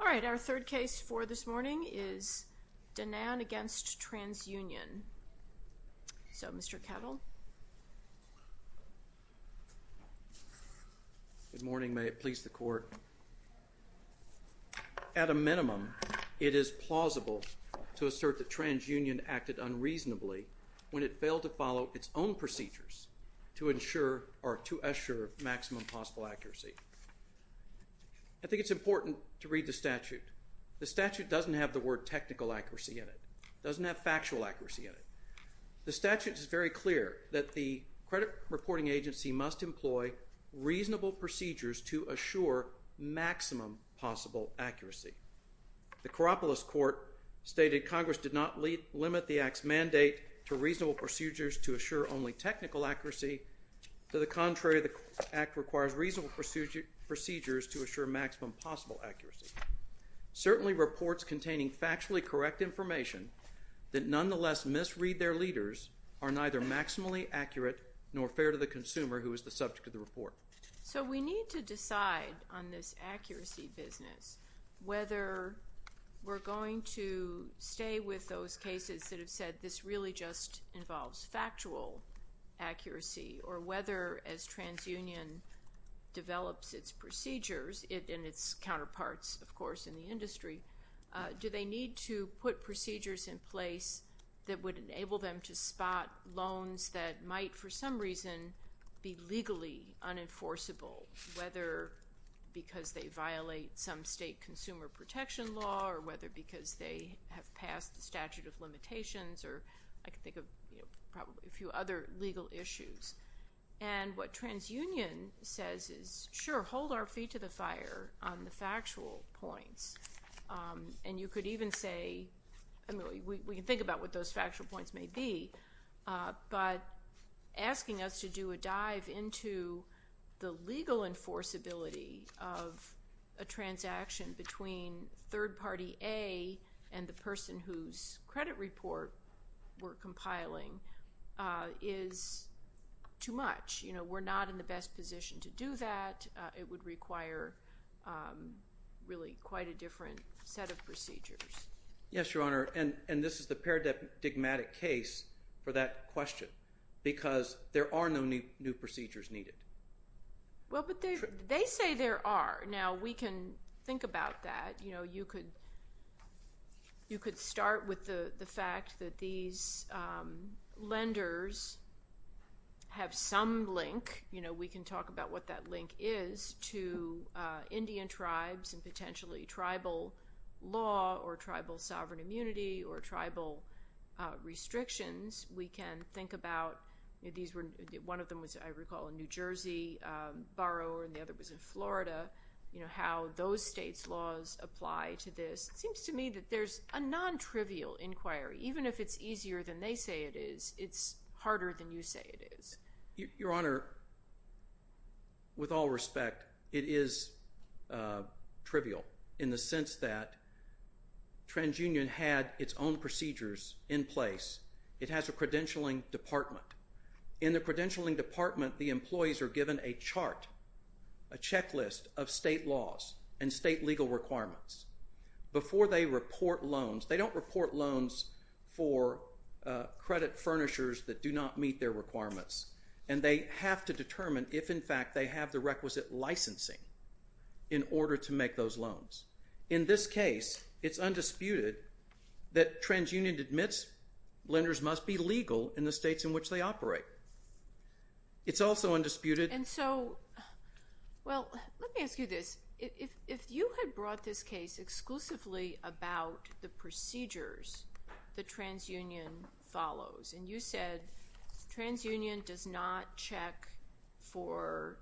All right, our third case for this morning is Denan v. TransUnion. So Mr. Kettle. Good morning, may it please the Court. At a minimum, it is plausible to assert that TransUnion acted unreasonably when it failed to follow its own procedures to ensure or to assure maximum possible accuracy. I think it's important to read the statute. The statute doesn't have the word technical accuracy in it. It doesn't have factual accuracy in it. The statute is very clear that the credit reporting agency must employ reasonable procedures to assure maximum possible accuracy. The Kouropoulos Court stated Congress did not limit the Act's mandate to reasonable procedures to assure only technical accuracy. To the contrary, the Act requires reasonable procedures to assure technical accuracy. Certainly reports containing factually correct information that nonetheless misread their leaders are neither maximally accurate nor fair to the consumer who is the subject of the report. So we need to decide on this accuracy business whether we're going to stay with those cases that have said this really just involves factual accuracy or whether as TransUnion develops its procedures and its counterparts, of course, in the industry, do they need to put procedures in place that would enable them to spot loans that might for some reason be legally unenforceable, whether because they violate some state consumer protection law or whether because they have passed the statute of limitations or I can other legal issues. And what TransUnion says is, sure, hold our feet to the fire on the factual points. And you could even say, I mean, we can think about what those factual points may be, but asking us to do a dive into the legal enforceability of a transaction between third party A and the person whose credit report we're compiling is too much. You know, we're not in the best position to do that. It would require really quite a different set of procedures. Yes, Your Honor. And this is the paradigmatic case for that question because there are no new procedures needed. Well, but they say there are. Now, we can think about that. You know, you could start with the fact that these lenders have some link. You know, we can talk about what that link is to Indian tribes and potentially tribal law or tribal sovereign immunity or tribal restrictions. We can think about, you know, those states' laws apply to this. It seems to me that there's a non-trivial inquiry. Even if it's easier than they say it is, it's harder than you say it is. Your Honor, with all respect, it is trivial in the sense that TransUnion had its own procedures in place. It has a credentialing department. In the credentialing department, the employees are given a chart, a checklist of state laws and state legal requirements before they report loans. They don't report loans for credit furnishers that do not meet their requirements. And they have to determine if, in fact, they have the requisite licensing in order to make those loans. In this case, it's undisputed that TransUnion admits lenders must be legal in the states in which they operate. It's also undisputed... And so, well, let me ask you this. If you had brought this case exclusively about the procedures that TransUnion follows, and you said TransUnion does not check for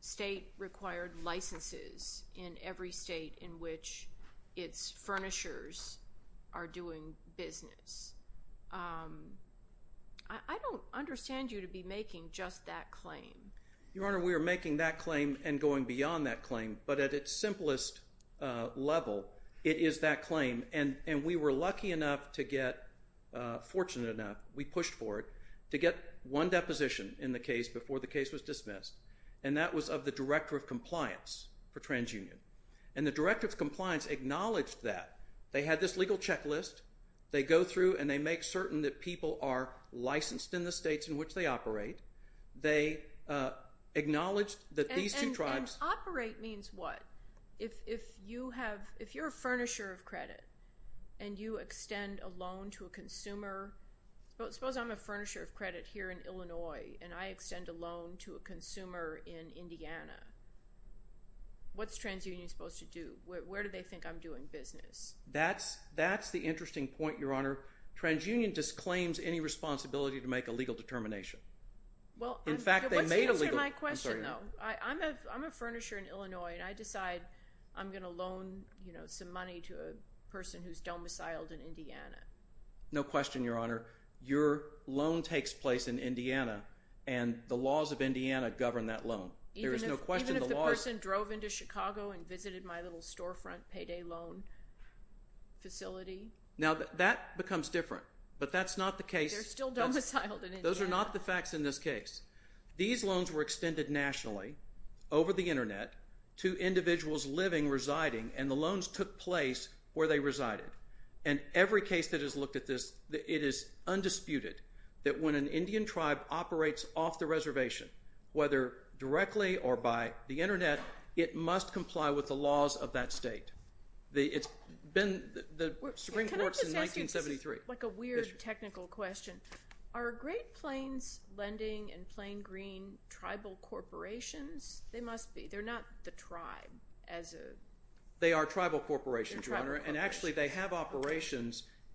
state-required licenses in every state in which its furnishers are doing business, I don't understand you to be making just that claim. Your Honor, we are making that claim and going beyond that claim. But at its simplest level, it is that claim. And we were lucky enough to get, fortunate enough, we pushed for it, to get one deposition in the case before the case was dismissed. And that was of the Director of Compliance for TransUnion. And the Director of Compliance acknowledged that. They had this legal checklist. They go through and they make certain that people are licensed in the states in which they operate. They acknowledged that these two tribes... And operate means what? If you're a furnisher of credit and you extend a loan to a consumer... Suppose I'm a furnisher of credit here in Illinois, and I extend a loan to a consumer in Indiana. What's TransUnion supposed to do? Where do they think I'm doing business? That's the interesting point, Your Honor. TransUnion disclaims any responsibility to make a legal determination. Well, what's the answer to my question though? I'm a furnisher in Illinois, and I decide I'm going to loan some money to a person who's domiciled in Indiana. No question, Your Honor. Your loan takes place in Indiana, and the laws of Indiana govern that loan. Even if the person drove into Chicago and visited my little storefront payday loan facility? Now, that becomes different, but that's not the case. They're still domiciled in Indiana. Those are not the facts in this case. These loans were extended nationally over the every case that has looked at this, it is undisputed that when an Indian tribe operates off the reservation, whether directly or by the internet, it must comply with the laws of that state. It's been the Supreme Court's in 1973. Like a weird technical question. Are Great Plains Lending and Plain Green tribal corporations? They must be. They're not the tribe as a... They are corporations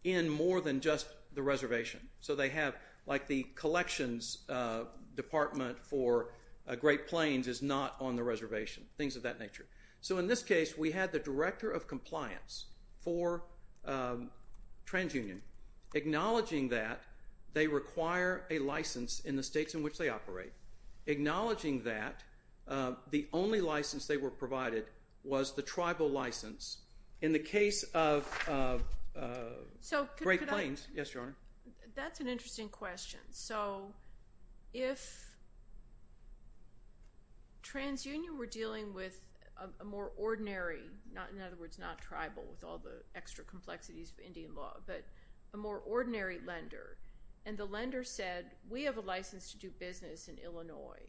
in more than just the reservation. So they have like the collections department for Great Plains is not on the reservation. Things of that nature. So in this case, we had the director of compliance for TransUnion acknowledging that they require a license in the states in which they operate. Acknowledging that the only license they were provided was the tribal license. In the case of Great Plains... Yes, Your Honor. That's an interesting question. So if TransUnion were dealing with a more ordinary, in other words, not tribal with all the extra complexities of Indian law, but a more ordinary lender, and the lender said, we have a license to do business in Illinois,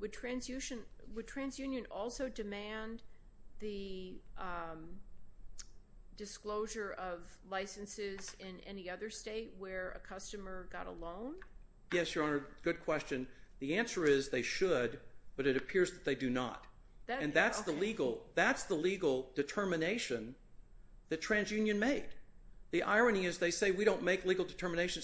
would TransUnion also demand the disclosure of licenses in any other state where a customer got a loan? Yes, Your Honor. Good question. The answer is they should, but it appears that they do not. And that's the legal determination that TransUnion made. The irony is they say, we don't make legal determination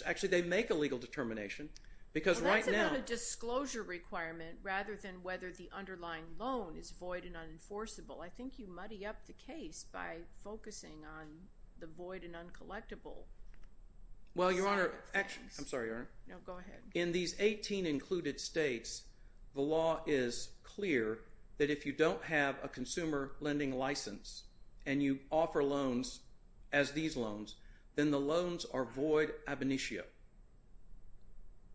because right now... That's about a disclosure requirement rather than whether the underlying loan is void and unenforceable. I think you muddy up the case by focusing on the void and uncollectible. Well, Your Honor, actually, I'm sorry, Your Honor. No, go ahead. In these 18 included states, the law is clear that if you don't have a consumer lending license and you offer loans as these loans, then the loans are void ab initio.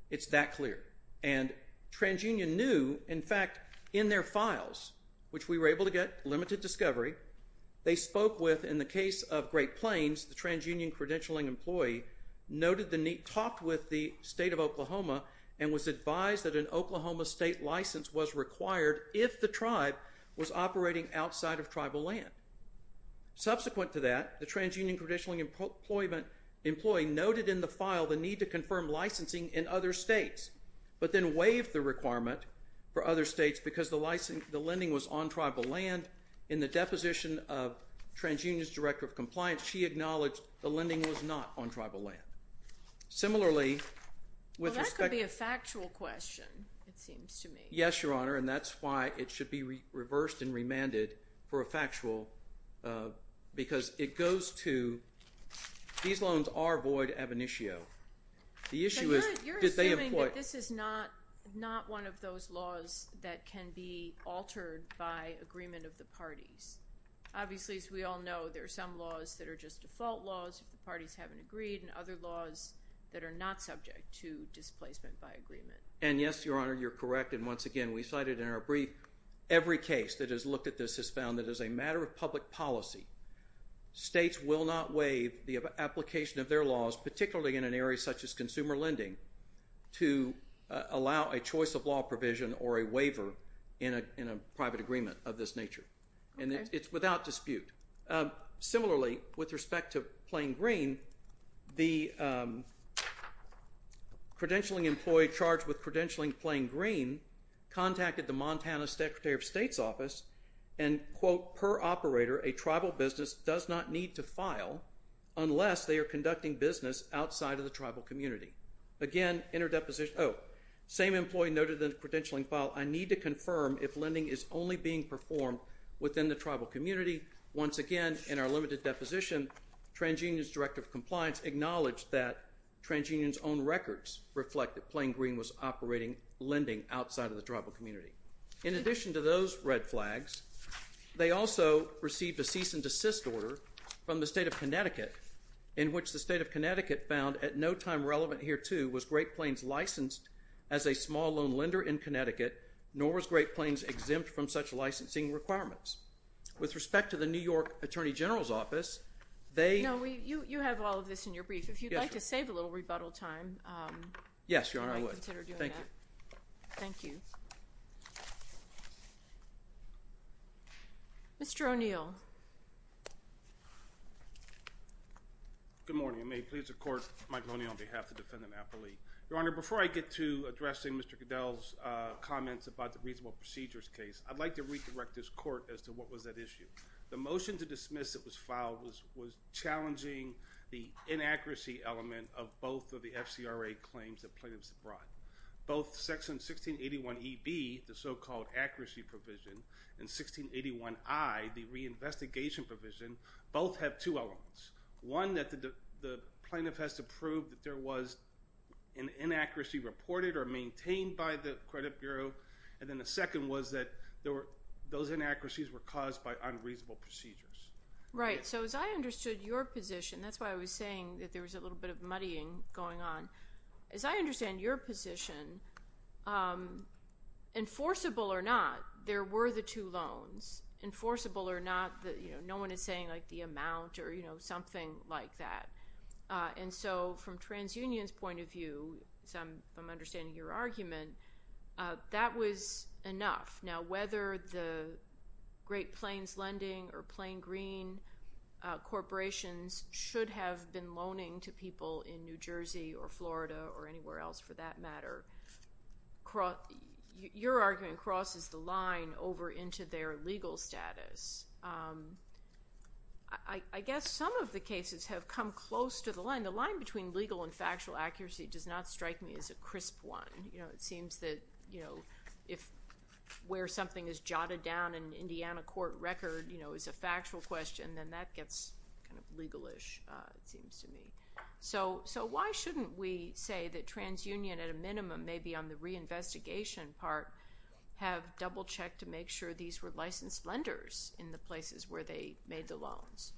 It's that clear. And TransUnion knew, in fact, in their files, which we were able to get limited discovery, they spoke with, in the case of Great Plains, the TransUnion credentialing employee, noted the need, talked with the state of Oklahoma, and was advised that an Oklahoma state license was required if the tribe was operating outside of tribal land. Subsequent to that, the TransUnion credentialing employee noted in the file the need to confirm licensing in other states, but then waived the requirement for other states because the lending was on tribal land. In the deposition of TransUnion's Director of Compliance, she acknowledged the lending was not on tribal land. Similarly, with respect... Well, that could be a factual question, it seems to me. Yes, Your Honor, and that's why it should be reversed and remanded for a factual... Because it goes to, these loans are void ab initio. The issue is... You're assuming that this is not one of those laws that can be altered by agreement of the parties. Obviously, as we all know, there are some laws that are just default laws if the parties haven't agreed, and other laws that are not subject to displacement by agreement. And yes, Your Honor, you're correct. And once again, we cited in our brief, every case that has looked at this has found that as a matter of public policy, states will not waive the application of their laws, particularly in an area such as consumer lending, to allow a choice of law provision or a waiver in a private agreement of this nature. And it's without dispute. Similarly, with respect to Plain Green, the credentialing employee charged with Plain Green contacted the Montana Secretary of State's office and, quote, per operator, a tribal business does not need to file unless they are conducting business outside of the tribal community. Again, interdeposition... Oh, same employee noted in the credentialing file, I need to confirm if lending is only being performed within the tribal community. Once again, in our limited deposition, TransUnion's Director of Compliance acknowledged that TransUnion's own records reflect that Plain Green was operating lending outside of the tribal community. In addition to those red flags, they also received a cease and desist order from the state of Connecticut, in which the state of Connecticut found, at no time relevant hereto, was Great Plains licensed as a small loan lender in Connecticut, nor was Great Plains exempt from such licensing requirements. With respect to the New York Attorney General's Office, they... No, you have all of this in your brief. If you'd like to save a little rebuttal time, you might consider doing that. Yes, Your Honor, I would. Thank you. Thank you. Mr. O'Neill. Good morning. I may please the Court, Mike O'Neill, on behalf of Defendant Appley. Your Honor, before I get to addressing Mr. Goodell's comments about the reasonable procedures case, I'd like to redirect this Court as to what was that issue. The motion to dismiss that was filed was challenging the inaccuracy element of both of the FCRA claims that plaintiffs brought. Both Section 1681EB, the so-called accuracy provision, and 1681I, the reinvestigation provision, both have two elements. One, that the plaintiff has to prove that there was an inaccuracy reported or maintained by the credit bureau, and then the second was that those inaccuracies were caused by unreasonable procedures. Right. So as I understood your position, that's why I was saying that there was a little bit of muddying going on. As I understand your position, enforceable or not, there were the two loans. Enforceable or not, no one is saying like the amount or, you know, something like that. And so from TransUnion's point of view, as I'm understanding your argument, that was enough. Now whether the Great Plains Lending or Plain Green corporations should have been loaning to people in New Jersey or Florida or anywhere else for that matter, your argument crosses the line over into their legal status. I guess some of the cases have come close to the line. The line between legal and factual accuracy does not strike me as a crisp one. You know, it seems that, you know, if where something is jotted down in an Indiana court record, you know, is a factual question, then that gets kind of legal-ish, it seems to me. So why shouldn't we say that TransUnion at a minimum, maybe on the reinvestigation part, have double-checked to make sure these were licensed lenders in the places where they made the loans?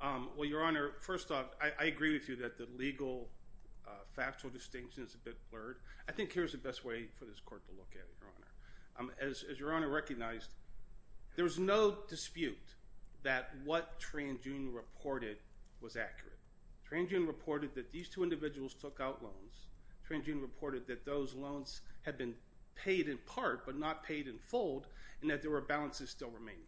Well, Your Honor, first off, I agree with you that the legal-factual distinction is a bit blurred. I think here's the best way for this court to look at it, Your Honor. As Your Honor recognized, there's no dispute that what TransUnion reported was accurate. TransUnion reported that these two individuals took out loans. TransUnion reported that those loans had been paid in part but not paid in fold and that there were balances still remaining.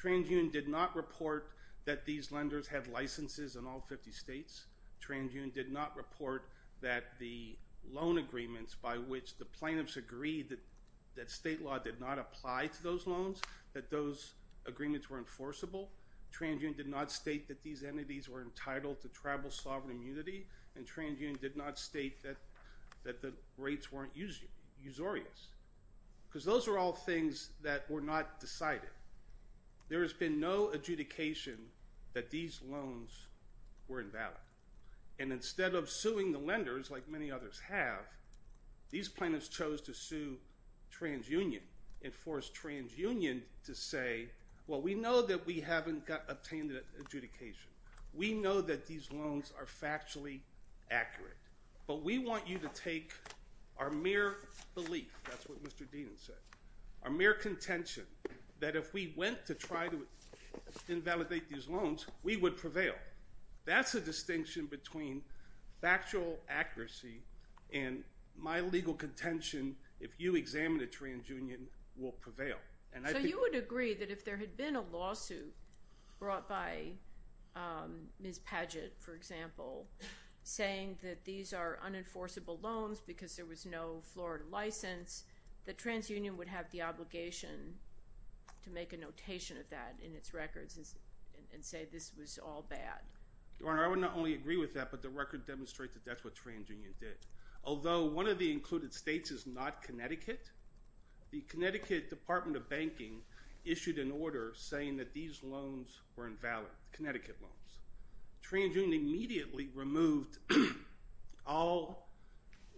TransUnion did not report that these lenders had licenses in all 50 states. TransUnion did not report that the loan agreements by which the plaintiffs agreed that that state law did not apply to those loans, that those agreements were enforceable. TransUnion did not state that these entities were entitled to tribal sovereign immunity, and TransUnion did not state that that the rates weren't usurious, because those are all things that were not decided. There has been no adjudication that these loans were invalid, and instead of suing the lenders, like many others have, these plaintiffs chose to sue TransUnion and force TransUnion to say, well, we know that we haven't obtained an adjudication. We know that these loans are factually accurate, but we want you to take our mere belief, that's what Mr. Deenan said, our mere contention, that if we went to try to invalidate these loans, we would prevail. That's the distinction between factual accuracy and my legal contention, if you examine a TransUnion will prevail. So you would agree that if there had been a lawsuit brought by Ms. Paget, for example, saying that these are unenforceable loans because there was no Florida license, that TransUnion would have the obligation to make a notation of that in its records and say this was all bad? Your Honor, I would not only agree with that, but the record demonstrates that that's what TransUnion did. Although one of the included states is not Connecticut, the Connecticut Department of Banking issued an order saying that these loans were invalid, Connecticut loans. TransUnion immediately removed all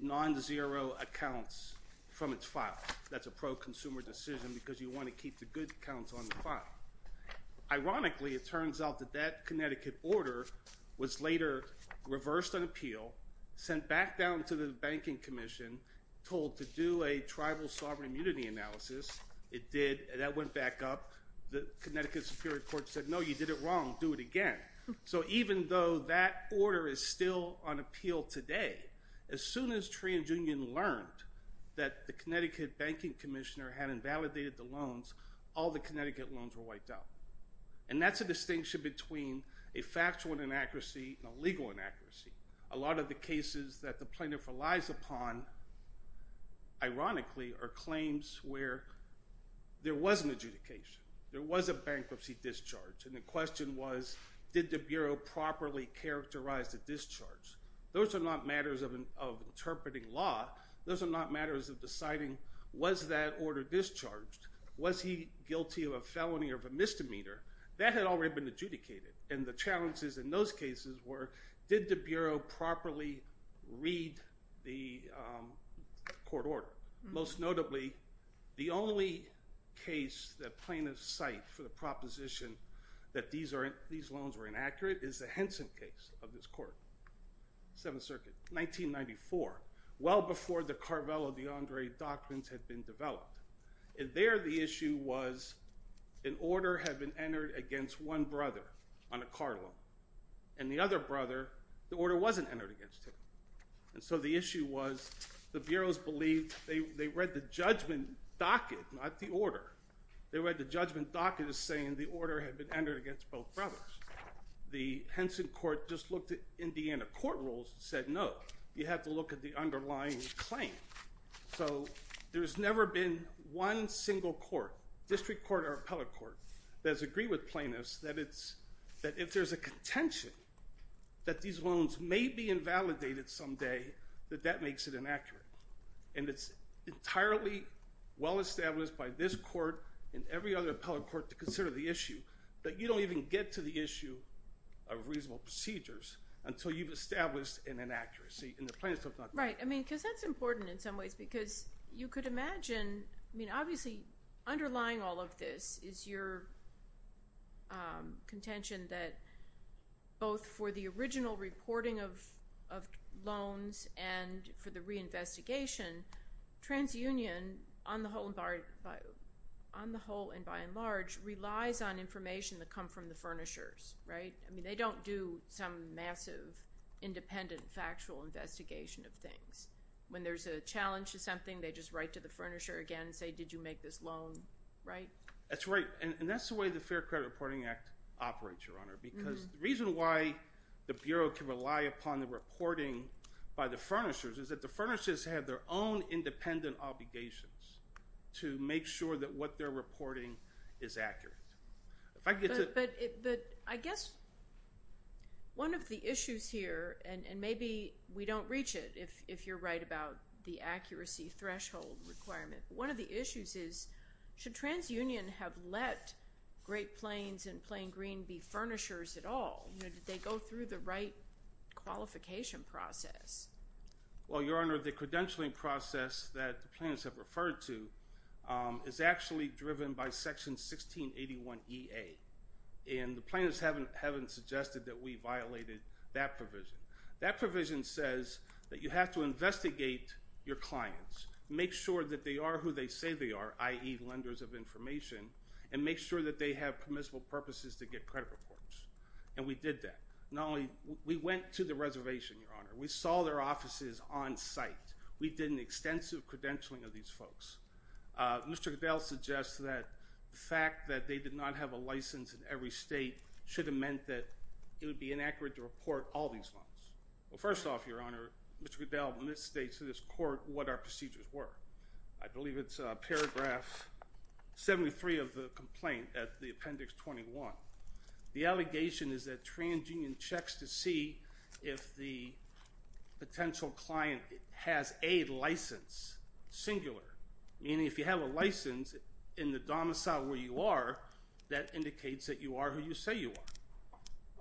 non-zero accounts from its file. That's a pro-consumer decision because you want to keep the good accounts on the file. Ironically, it turns out that that Connecticut order was later reversed on appeal, sent back down to the Banking Commission, told to do a tribal sovereign immunity analysis. It did, and that went back up. The Connecticut Superior Court said, no, you did it wrong. Do it again. So even though that order is still on appeal today, as soon as TransUnion learned that the Connecticut Banking Commissioner had invalidated the loans, all the Connecticut loans were wiped out. And that's a distinction between a factual inaccuracy and a legal inaccuracy. A lot of the cases that the plaintiff relies upon, ironically, are claims where there was an adjudication. There was a bankruptcy discharge, and the question was, did the Bureau properly characterize the discharge? Those are not matters of interpreting law. Those are not matters of deciding, was that order discharged? Was he guilty of a felony or of a misdemeanor? That had already been adjudicated, and the court ordered. Most notably, the only case that plaintiffs cite for the proposition that these loans were inaccurate is the Henson case of this court, Seventh Circuit, 1994, well before the Carvelo de Andre documents had been developed. And there the issue was, an order had been entered against one brother on a car loan, and the other bureaus believed they read the judgment docket, not the order. They read the judgment docket as saying the order had been entered against both brothers. The Henson court just looked at Indiana court rules and said, no, you have to look at the underlying claim. So there's never been one single court, district court or appellate court, that has agreed with plaintiffs that if there's a contention that these loans may be invalidated someday, that that makes it inaccurate. And it's entirely well established by this court and every other appellate court to consider the issue, that you don't even get to the issue of reasonable procedures until you've established an inaccuracy. And the plaintiffs have not done that. Right. I mean, because that's important in some ways, because you could imagine, I mean, obviously underlying all of this is your contention that both for the original reporting of loans and for the reinvestigation, transunion, on the whole and by and large, relies on information that come from the furnishers, right? I mean, they don't do some massive, independent, factual investigation of things. When there's a challenge to something, they just write to the furnisher again and say, did you make this loan right? That's right. And that's the way the Act operates, Your Honor, because the reason why the Bureau can rely upon the reporting by the furnishers is that the furnishers have their own independent obligations to make sure that what they're reporting is accurate. But I guess one of the issues here, and maybe we don't reach it, if you're right about the accuracy threshold requirement, but one of the issues is, should transunion have let Great Plains and Plain Green be furnishers at all? Did they go through the right qualification process? Well, Your Honor, the credentialing process that the plaintiffs have referred to is actually driven by Section 1681EA, and the plaintiffs haven't suggested that we violated that provision. That provision says that you have to investigate your clients, make sure that they are who they say they are, i.e. lenders of information, and make sure that they have permissible purposes to get credit reports. And we did that. Not only we went to the reservation, Your Honor, we saw their offices on site. We did an extensive credentialing of these folks. Mr. Goodell suggests that the fact that they did not have a license in every state should have meant that it would be inaccurate to report all these loans. Well, first off, Your Honor, Mr. Goodell misstates to this court what our procedures were. I believe it's paragraph 73 of the complaint at the appendix 21. The allegation is that transunion checks to see if the potential client has a license, singular, meaning if you have a license in the domicile where you are, that indicates that you are who you say you are.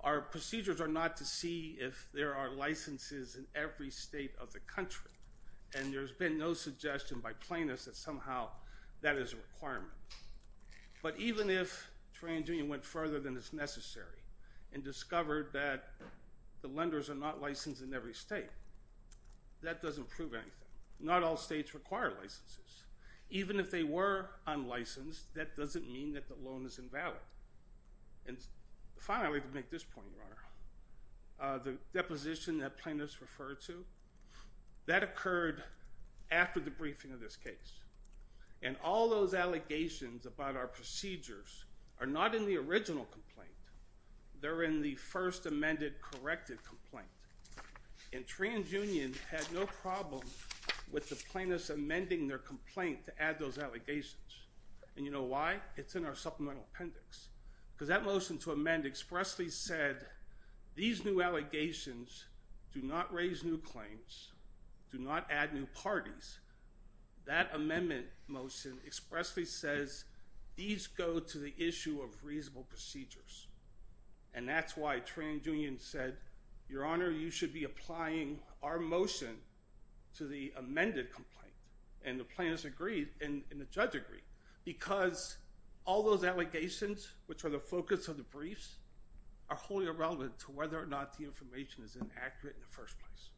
Our procedures are not to see if there are licenses in every state of the country, and there's been no suggestion by plaintiffs that somehow that is a requirement. But even if transunion went further than is necessary and discovered that the lenders are not licensed in every state, that doesn't prove anything. Not all states require licenses. Even if they were licensed, that doesn't mean that the loan is invalid. And finally, to make this point, Your Honor, the deposition that plaintiffs referred to, that occurred after the briefing of this case. And all those allegations about our procedures are not in the original complaint. They're in the first amended corrected complaint. And transunion had no problem with the plaintiffs amending their allegations. And you know why? It's in our supplemental appendix. Because that motion to amend expressly said these new allegations do not raise new claims, do not add new parties. That amendment motion expressly says these go to the issue of reasonable procedures. And that's why transunion said, Your Honor, you should be applying our motion to the amended complaint. And the plaintiffs agreed, and the judge agreed. Because all those allegations, which are the focus of the briefs, are wholly irrelevant to whether or not the information is inaccurate in the first place.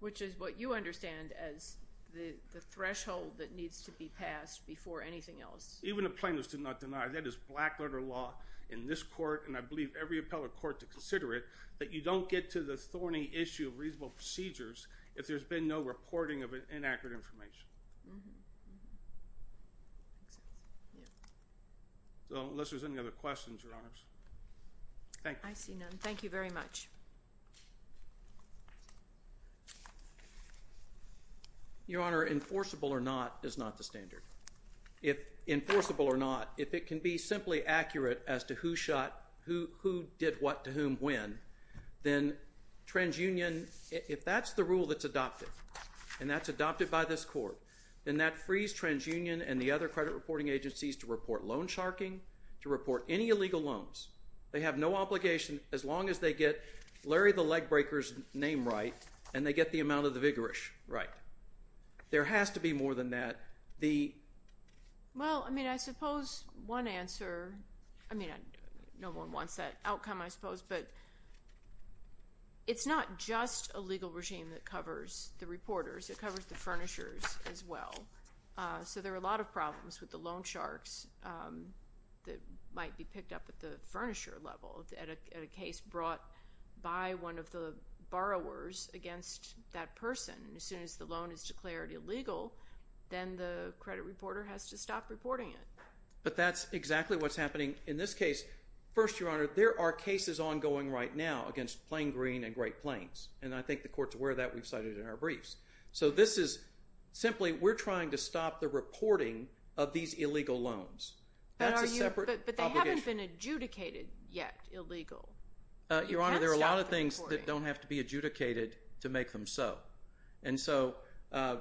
Which is what you understand as the threshold that needs to be passed before anything else. Even the plaintiffs did not deny that is black letter law in this court, and I believe every appellate court to consider it, that you don't get to the thorny issue of reasonable procedures if there's been no reporting of inaccurate information. So unless there's any other questions, Your Honors. Thank you. I see none. Thank you very much. Your Honor, enforceable or not is not the standard. If enforceable or not, if it can be simply accurate as to who shot, who did what to whom when, then transunion, if that's the rule that's adopted, and that's adopted by this court, then that frees transunion and the other credit reporting agencies to report loan sharking, to report any illegal loans. They have no obligation as long as they get Larry the Leg Breaker's name right, and they get the amount of the vigorish right. There has to be more than that. Well, I mean, I suppose one answer, I mean, no one wants that outcome, I suppose, but it's not just a legal regime that covers the reporters. It covers the furnishers as well. So there are a lot of problems with the loan sharks that might be picked up at furnisher level at a case brought by one of the borrowers against that person. As soon as the loan is declared illegal, then the credit reporter has to stop reporting it. But that's exactly what's happening in this case. First, Your Honor, there are cases ongoing right now against Plain Green and Great Plains, and I think the court's aware of that. We've cited it in our briefs. So this is simply, we're trying to stop the reporting of these illegal loans. That's a fact. But they haven't been adjudicated yet illegal. Your Honor, there are a lot of things that don't have to be adjudicated to make them so. And so I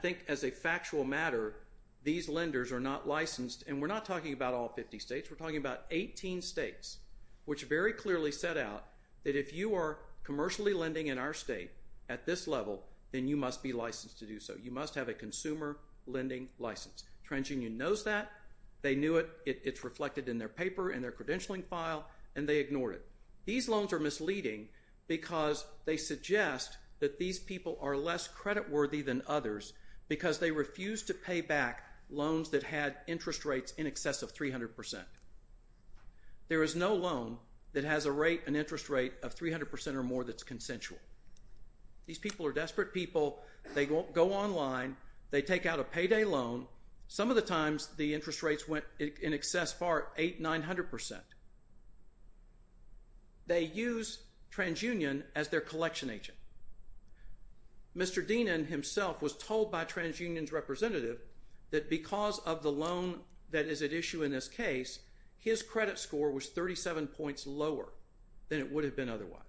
think as a factual matter, these lenders are not licensed, and we're not talking about all 50 states. We're talking about 18 states, which very clearly set out that if you are commercially lending in our state at this level, then you must be licensed to do so. You must have a consumer lending license. TransUnion knows that. They knew it. It's reflected in their paper and their credentialing file, and they ignored it. These loans are misleading because they suggest that these people are less creditworthy than others because they refused to pay back loans that had interest rates in excess of 300 percent. There is no loan that has an interest rate of 300 percent or more that's consensual. These people are desperate people. They go online. They take out a payday loan. Some of the times the interest rates went in excess for 800, 900 percent. They use TransUnion as their collection agent. Mr. Deenan himself was told by TransUnion's representative that because of the loan that is at issue in this case, his credit score was 37 points lower than it would have been otherwise.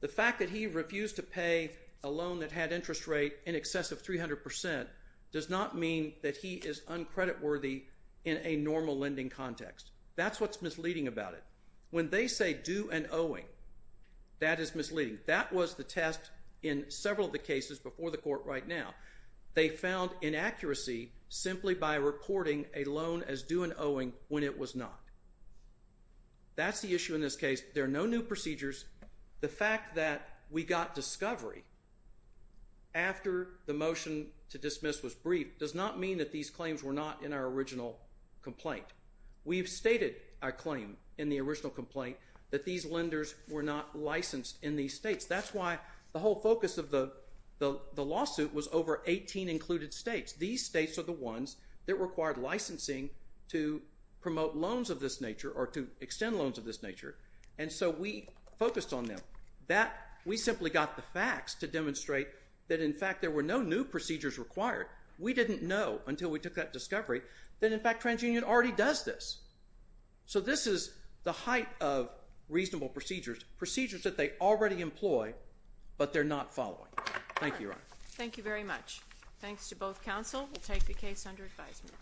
The fact that he refused to pay a loan that had interest rate in excess of 300 percent does not mean that he is uncreditworthy in a normal lending context. That's what's misleading about it. When they say due and owing, that is misleading. That was the test in several of the cases before the court right now. They found inaccuracy simply by reporting a loan as due and owing when it was not. That's the issue in this case. There are no new procedures. The fact that we got discovery after the motion to dismiss was briefed does not mean that these claims were not in our original complaint. We've stated our claim in the original complaint that these lenders were not licensed in these states. That's why the whole focus of the lawsuit was over 18 included states. These states are the ones that required licensing to promote loans of this nature or to extend loans of this nature. We focused on them. We simply got the facts to demonstrate that, in fact, there were no new procedures required. We didn't know until we took that discovery that, in fact, TransUnion already does this. This is the height of reasonable procedures, procedures that they already employ, but they're not following. Thank you, Your Honor. Thank you very much. Thanks to both counsel. We'll take the case under advisement.